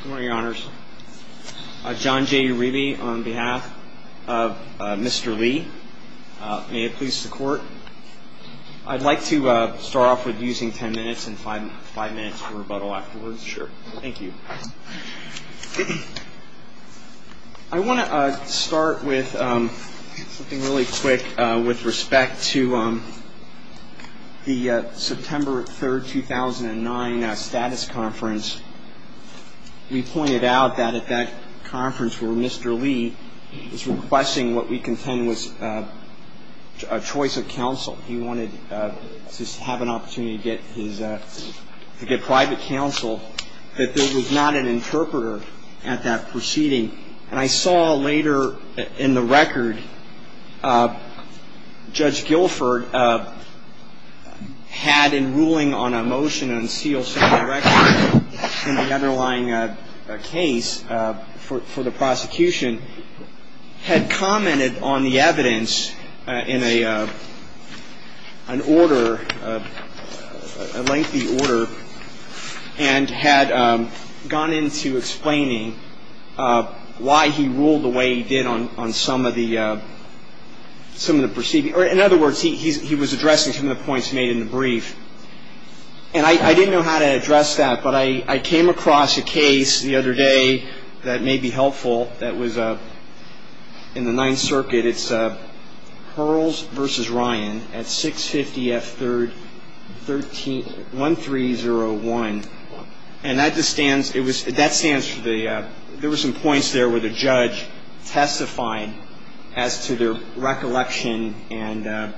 Good morning, your honors. John J. Uribe on behalf of Mr. Lee. May it please the court. I'd like to start off with using ten minutes and five minutes for rebuttal afterwards. Sure. Thank you. I want to start with something really quick with respect to the September 3rd, 2009, status conference. We pointed out that at that conference where Mr. Lee was requesting what we contend was a choice of counsel. He wanted to have an opportunity to get private counsel, that there was not an interpreter at that proceeding. And I saw later in the record Judge Guilford had in ruling on a motion to unseal some of the records in the underlying case for the prosecution, had commented on the evidence in an order, a lengthy order, and had gone into explaining why he ruled the way he did on some of the proceedings. In other words, he was addressing some of the points made in the brief. And I didn't know how to address that, but I came across a case the other day that may be helpful that was in the Ninth Circuit. It's Hurls v. Ryan at 650 F. 1301. And that stands for the ‑‑ there were some points there where the judge testified as to their recollection and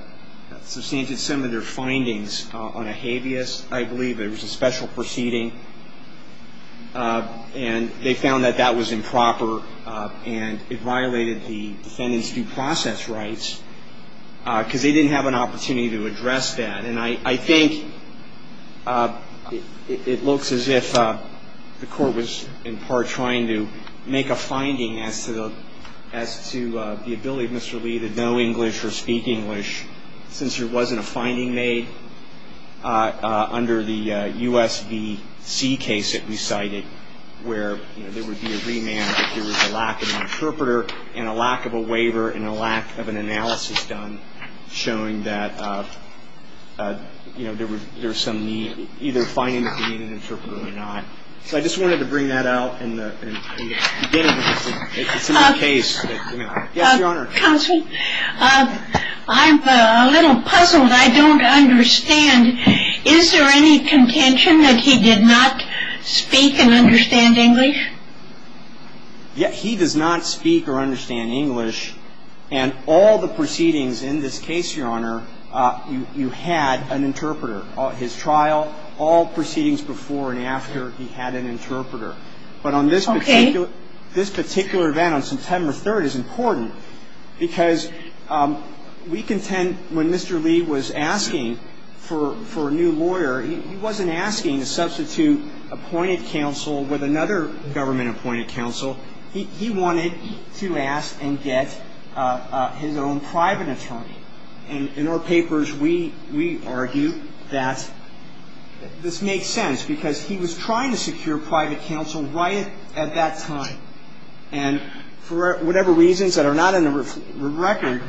substantiated some of their findings on a habeas, I believe. It was a special proceeding. And they found that that was improper and it violated the defendant's due process rights because they didn't have an opportunity to address that. And I think it looks as if the court was, in part, trying to make a finding as to the ability of Mr. Lee to know English or speak English, since there wasn't a finding made under the USVC case that we cited, where there would be a remand if there was a lack of an interpreter and a lack of a waiver and a lack of an analysis done showing that, you know, there was some need, either finding that they needed an interpreter or not. So I just wanted to bring that out in the beginning of the case. Yes, Your Honor. Counsel, I'm a little puzzled. I don't understand. Is there any contention that he did not speak and understand English? Yes. He does not speak or understand English. And all the proceedings in this case, Your Honor, you had an interpreter. His trial, all proceedings before and after, he had an interpreter. Okay. But on this particular event on September 3rd is important because we contend when Mr. Lee was asking for a new lawyer, he wasn't asking to substitute appointed counsel with another government-appointed counsel. He wanted to ask and get his own private attorney. And in our papers, we argue that this makes sense because he was trying to secure private counsel right at that time. And for whatever reasons that are not in the record,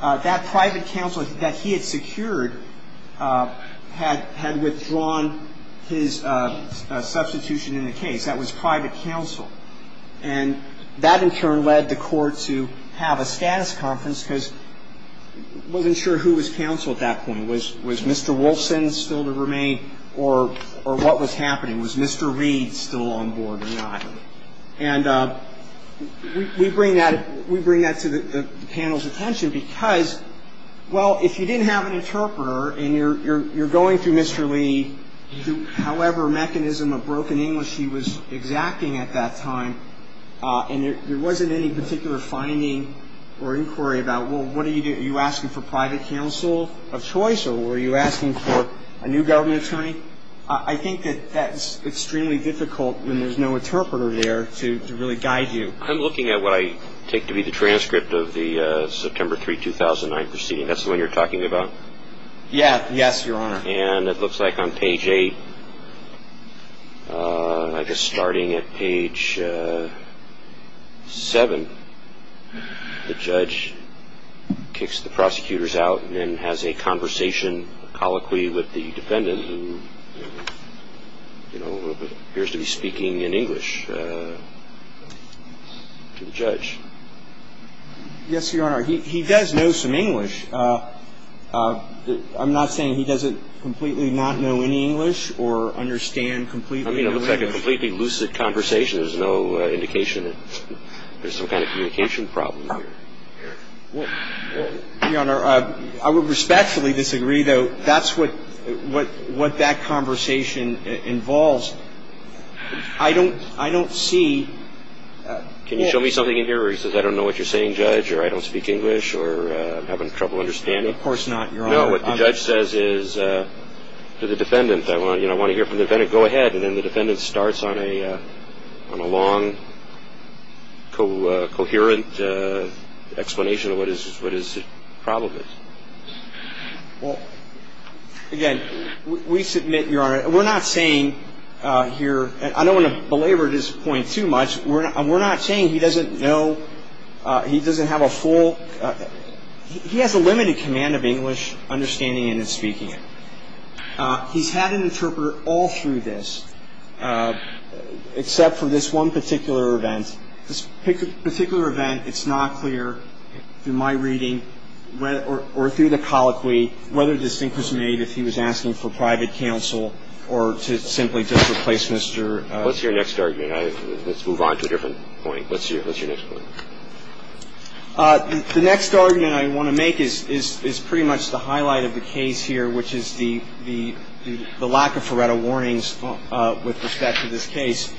that private counsel that he had secured had withdrawn his substitution in the case. That was private counsel. And that, in turn, led the court to have a status conference because it wasn't sure who was counsel at that point. Was Mr. Wolfson still to remain or what was happening? Was Mr. Reed still on board or not? And we bring that to the panel's attention because, well, if you didn't have an interpreter and you're going through Mr. Lee, however mechanism of broken English he was exacting at that time, and there wasn't any particular finding or inquiry about, well, what are you doing? Are you asking for private counsel of choice or were you asking for a new government attorney? I think that that's extremely difficult when there's no interpreter there to really guide you. I'm looking at what I take to be the transcript of the September 3, 2009 proceeding. That's the one you're talking about? Yes, Your Honor. And it looks like on page 8, I guess starting at page 7, the judge kicks the prosecutors out and then has a conversation colloquially with the defendant who, you know, appears to be speaking in English to the judge. Yes, Your Honor. He does know some English. I'm not saying he doesn't completely not know any English or understand completely no English. I mean, it looks like a completely lucid conversation. There's no indication that there's some kind of communication problem here. Well, Your Honor, I would respectfully disagree, though. That's what that conversation involves. I don't see. Can you show me something in here where he says, I don't know what you're saying, Judge, or I don't speak English, or I'm having trouble understanding? Of course not, Your Honor. No, what the judge says is to the defendant, you know, I want to hear from the defendant. I'm going to go ahead. And then the defendant starts on a long, coherent explanation of what his problem is. Well, again, we submit, Your Honor, we're not saying here, and I don't want to belabor this point too much, we're not saying he doesn't know, he doesn't have a full, he has a limited command of English, understanding it and speaking it. He's had an interpreter all through this, except for this one particular event. This particular event, it's not clear, in my reading, or through the colloquy, whether this thing was made if he was asking for private counsel or to simply just replace Mr. What's your next argument? Let's move on to a different point. What's your next point? The next argument I want to make is pretty much the highlight of the case here, which is the lack of FARETA warnings with respect to this case.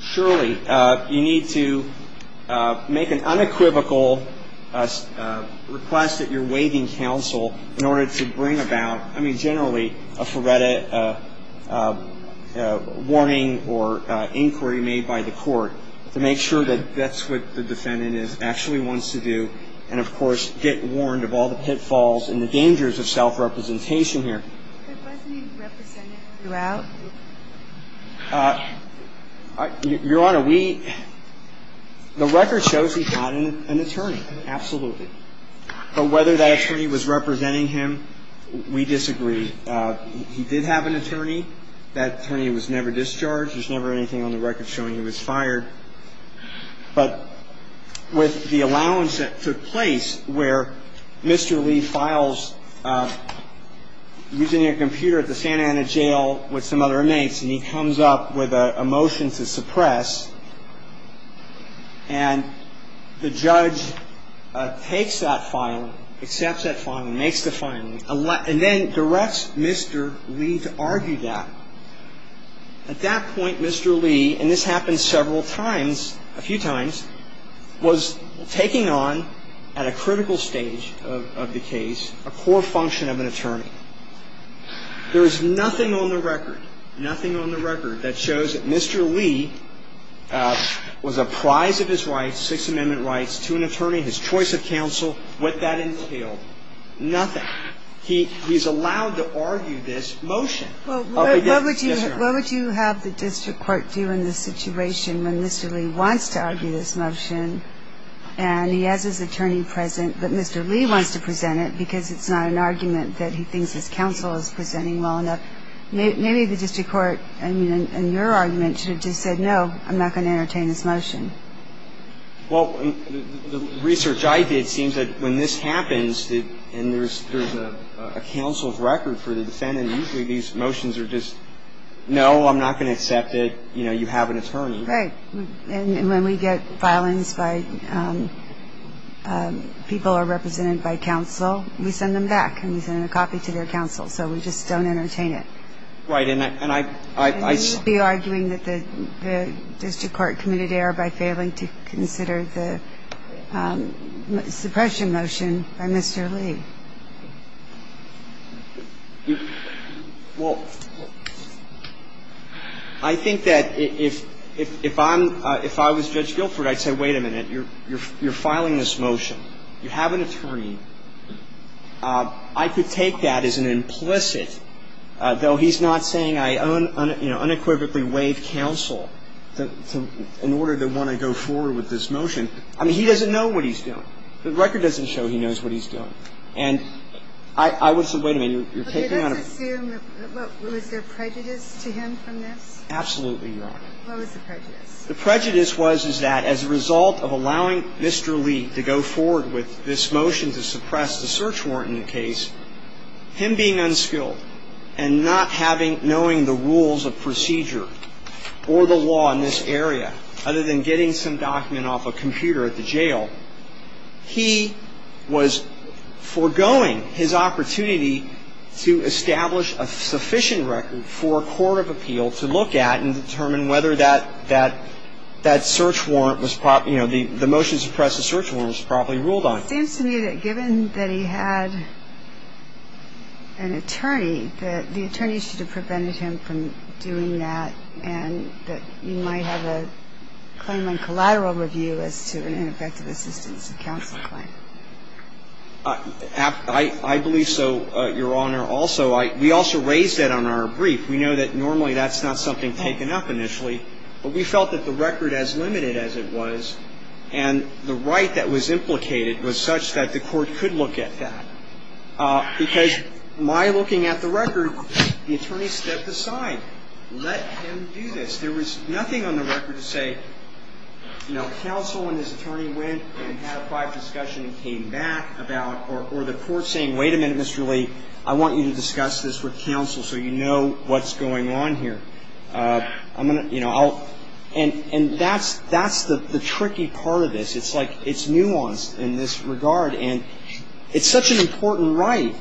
Surely, you need to make an unequivocal request that you're waiving counsel in order to bring about, I mean, generally, a FARETA warning or inquiry made by the court, to make sure that that's what the defendant actually wants to do, and, of course, get warned of all the pitfalls and the dangers of self-representation here. But wasn't he represented throughout? Your Honor, we, the record shows he's not an attorney, absolutely. But whether that attorney was representing him, we disagree. He did have an attorney. That attorney was never discharged. There's never anything on the record showing he was fired. But with the allowance that took place where Mr. Lee files using a computer at the Santa Ana jail with some other inmates, and he comes up with a motion to suppress, and the judge takes that filing, accepts that filing, makes the filing, and then directs Mr. Lee to argue that. At that point, Mr. Lee, and this happened several times, a few times, was taking on at a critical stage of the case a core function of an attorney. There is nothing on the record, nothing on the record that shows that Mr. Lee was a prize of his rights, Sixth Amendment rights, to an attorney, his choice of counsel, what that entailed. Nothing. He's allowed to argue this motion. Yes, Your Honor. What would you have the district court do in this situation when Mr. Lee wants to argue this motion, and he has his attorney present, but Mr. Lee wants to present it because it's not an argument that he thinks his counsel is presenting well enough? Maybe the district court, in your argument, should have just said, no, I'm not going to entertain this motion. Well, the research I did seems that when this happens and there's a counsel's record for the defendant, usually these motions are just, no, I'm not going to accept it, you have an attorney. Right. And when we get filings by people who are represented by counsel, we send them back and we send a copy to their counsel, so we just don't entertain it. Right. And I see you arguing that the district court committed error by failing to consider the suppression motion by Mr. Lee. Well, I think that if I'm – if I was Judge Guilford, I'd say, wait a minute, you're filing this motion, you have an attorney. I could take that as an implicit, though he's not saying I unequivocally waive counsel in order to want to go forward with this motion. I mean, he doesn't know what he's doing. The record doesn't show he knows what he's doing. And I would say, wait a minute, you're taking on a – Okay. Let's assume – was there prejudice to him from this? Absolutely, Your Honor. What was the prejudice? The prejudice was, is that as a result of allowing Mr. Lee to go forward with this motion to suppress the search warrant in the case, him being unskilled and not having – knowing the rules of procedure or the law in this area, other than getting some document off a computer at the jail, he was foregoing his opportunity to establish a sufficient record for a court of appeal to look at and determine whether that search warrant was – the motion to suppress the search warrant was properly ruled on. It seems to me that given that he had an attorney, that the attorney should have prevented him from doing that and that you might have a claim on collateral review as to an ineffective assistance of counsel claim. I believe so, Your Honor. Also, we also raised that on our brief. We know that normally that's not something taken up initially, but we felt that the record as limited as it was and the right that was implicated was such that the court could look at that. Because my looking at the record, the attorney stepped aside. Let him do this. There was nothing on the record to say, you know, counsel and his attorney went and had a private discussion and came back about – or the court saying, wait a minute, Mr. Lee. I want you to discuss this with counsel so you know what's going on here. I'm going to – you know, I'll – and that's the tricky part of this. It's like it's nuanced in this regard. And it's such an important right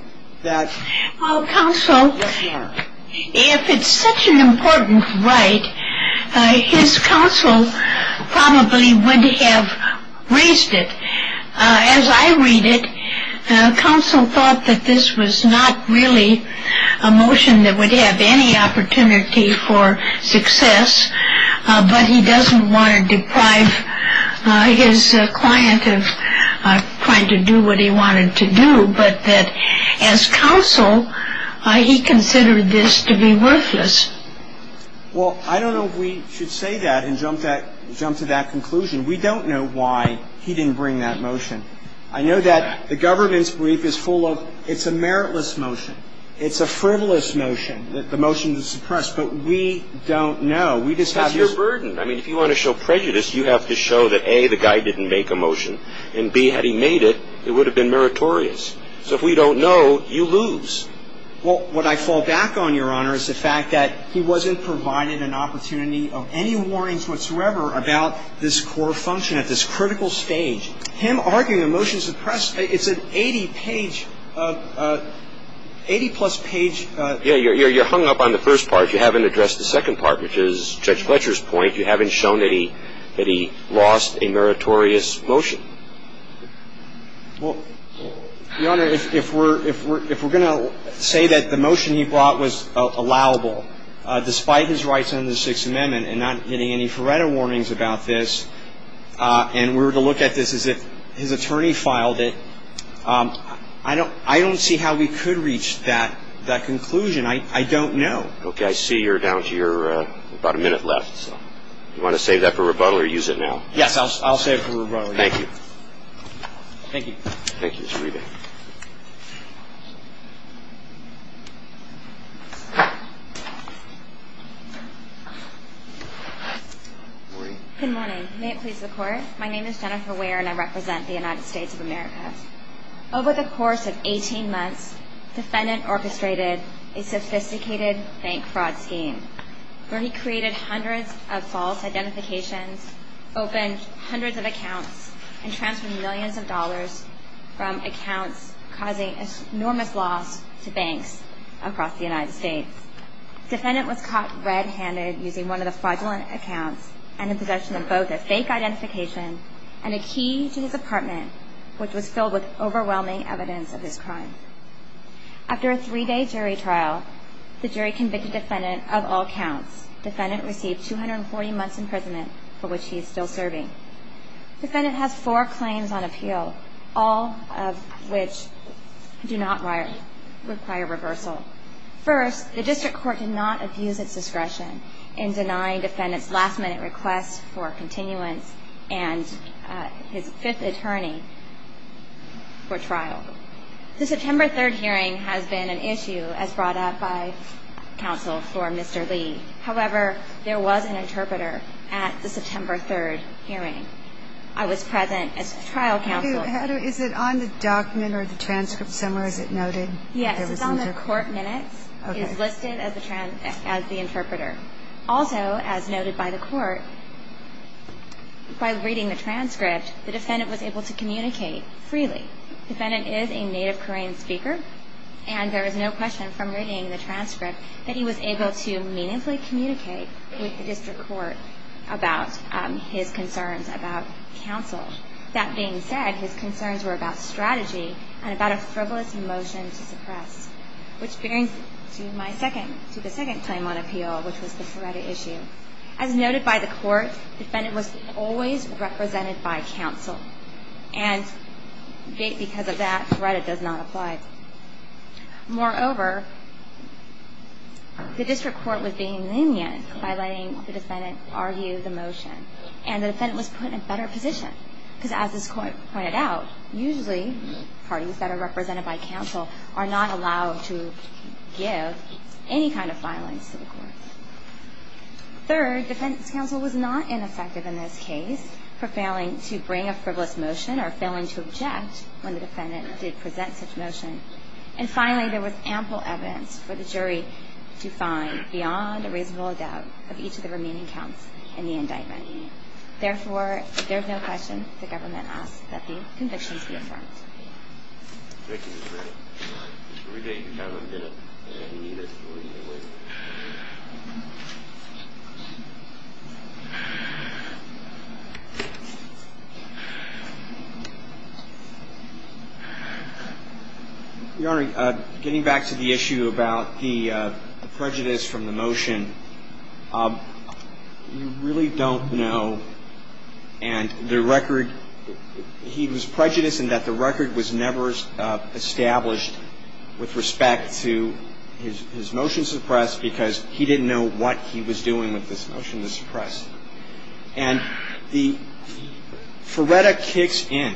that – Well, counsel – Yes, Your Honor. If it's such an important right, his counsel probably would have raised it. As I read it, counsel thought that this was not really a motion that would have any opportunity for success, but he doesn't want to deprive his client of trying to do what he wanted to do, but that as counsel he considered this to be worthless. Well, I don't know if we should say that and jump to that conclusion. We don't know why he didn't bring that motion. I know that the government's brief is full of it's a meritless motion, it's a frivolous motion, that the motion is suppressed, but we don't know. We just have this – It's your burden. I mean, if you want to show prejudice, you have to show that, A, the guy didn't make a motion, and, B, had he made it, it would have been meritorious. So if we don't know, you lose. Well, what I fall back on, Your Honor, is the fact that he wasn't provided an opportunity of any warnings whatsoever about this core function at this critical stage. I'm arguing the motion is suppressed. It's an 80-page, 80-plus page – Yeah. You're hung up on the first part. You haven't addressed the second part, which is Judge Fletcher's point. You haven't shown that he lost a meritorious motion. Well, Your Honor, if we're going to say that the motion he brought was allowable, despite his rights under the Sixth Amendment and not getting any Faretta warnings about this, and we were to look at this as if his attorney filed it, I don't see how we could reach that conclusion. I don't know. Okay. I see you're down to your about a minute left. Do you want to save that for rebuttal or use it now? Yes, I'll save it for rebuttal. Thank you. Thank you. Thank you, Mr. Reba. Good morning. Good morning. May it please the Court, my name is Jennifer Ware, and I represent the United States of America. Over the course of 18 months, the defendant orchestrated a sophisticated bank fraud scheme where he created hundreds of false identifications, opened hundreds of accounts, and transferred millions of dollars from accounts causing enormous loss to banks across the United States. The defendant was caught red-handed using one of the fraudulent accounts and in possession of both a fake identification and a key to his apartment, which was filled with overwhelming evidence of his crime. After a three-day jury trial, the jury convicted the defendant of all counts. The defendant received 240 months in prison for which he is still serving. The defendant has four claims on appeal, all of which do not require reversal. First, the district court did not abuse its discretion in denying the defendant's last-minute request for continuance and his fifth attorney for trial. The September 3rd hearing has been an issue as brought up by counsel for Mr. Lee. However, there was an interpreter at the September 3rd hearing. I was present as trial counsel. Is it on the document or the transcript somewhere? Is it noted? Yes, it's on the court minutes. Okay. It's listed as the interpreter. Also, as noted by the court, by reading the transcript, the defendant was able to communicate freely. The defendant is a native Korean speaker, and there is no question from reading the transcript that he was able to meaningfully communicate with the district court about his concerns about counsel. That being said, his concerns were about strategy and about a frivolous motion to suppress, which brings me to the second claim on appeal, which was the Feretta issue. As noted by the court, the defendant was always represented by counsel, and because of that, Feretta does not apply. Moreover, the district court was being lenient by letting the defendant argue the motion, and the defendant was put in a better position because, as this court pointed out, usually parties that are represented by counsel are not allowed to give any kind of violence to the court. Third, defendant's counsel was not ineffective in this case for failing to bring a frivolous motion or failing to object when the defendant did present such motion. And finally, there was ample evidence for the jury to find beyond a reasonable doubt of each of the remaining counts in the indictment. Therefore, if there is no question, the government asks that the convictions be affirmed. Thank you, Ms. Feretta. We're going to have a minute. Your Honor, getting back to the issue about the prejudice from the motion, we really don't know. And the record, he was prejudiced in that the record was never established with respect to his motion suppressed because he didn't know what he was doing with this motion to suppress. And the, Feretta kicks in.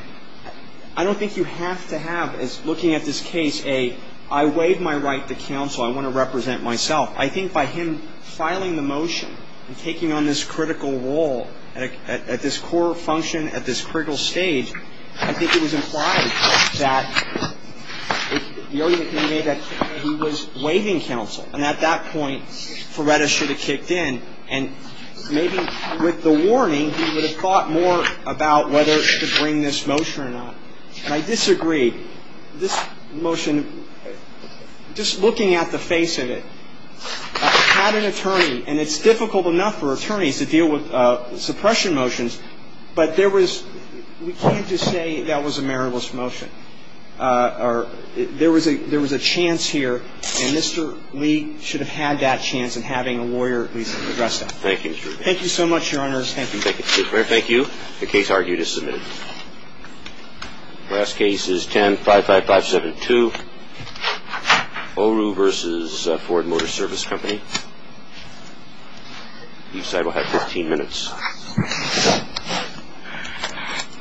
I don't think you have to have, as looking at this case, a, I waive my right to counsel, I want to represent myself. I think by him filing the motion and taking on this critical role at this core function, at this critical stage, I think it was implied that the argument can be made that he was waiving counsel. And at that point, Feretta should have kicked in. And maybe with the warning, he would have thought more about whether to bring this motion or not. And I disagree. This motion, just looking at the face of it, had an attorney, and it's difficult enough for attorneys to deal with suppression motions, but there was, we can't just say that was a meritless motion. There was a chance here, and Mr. Lee should have had that chance in having a lawyer at least address that. Thank you, Mr. Rubio. Thank you so much, Your Honors. Thank you. Thank you. The case argued is submitted. The last case is 10-55572, Oru versus Ford Motor Service Company. Each side will have 15 minutes.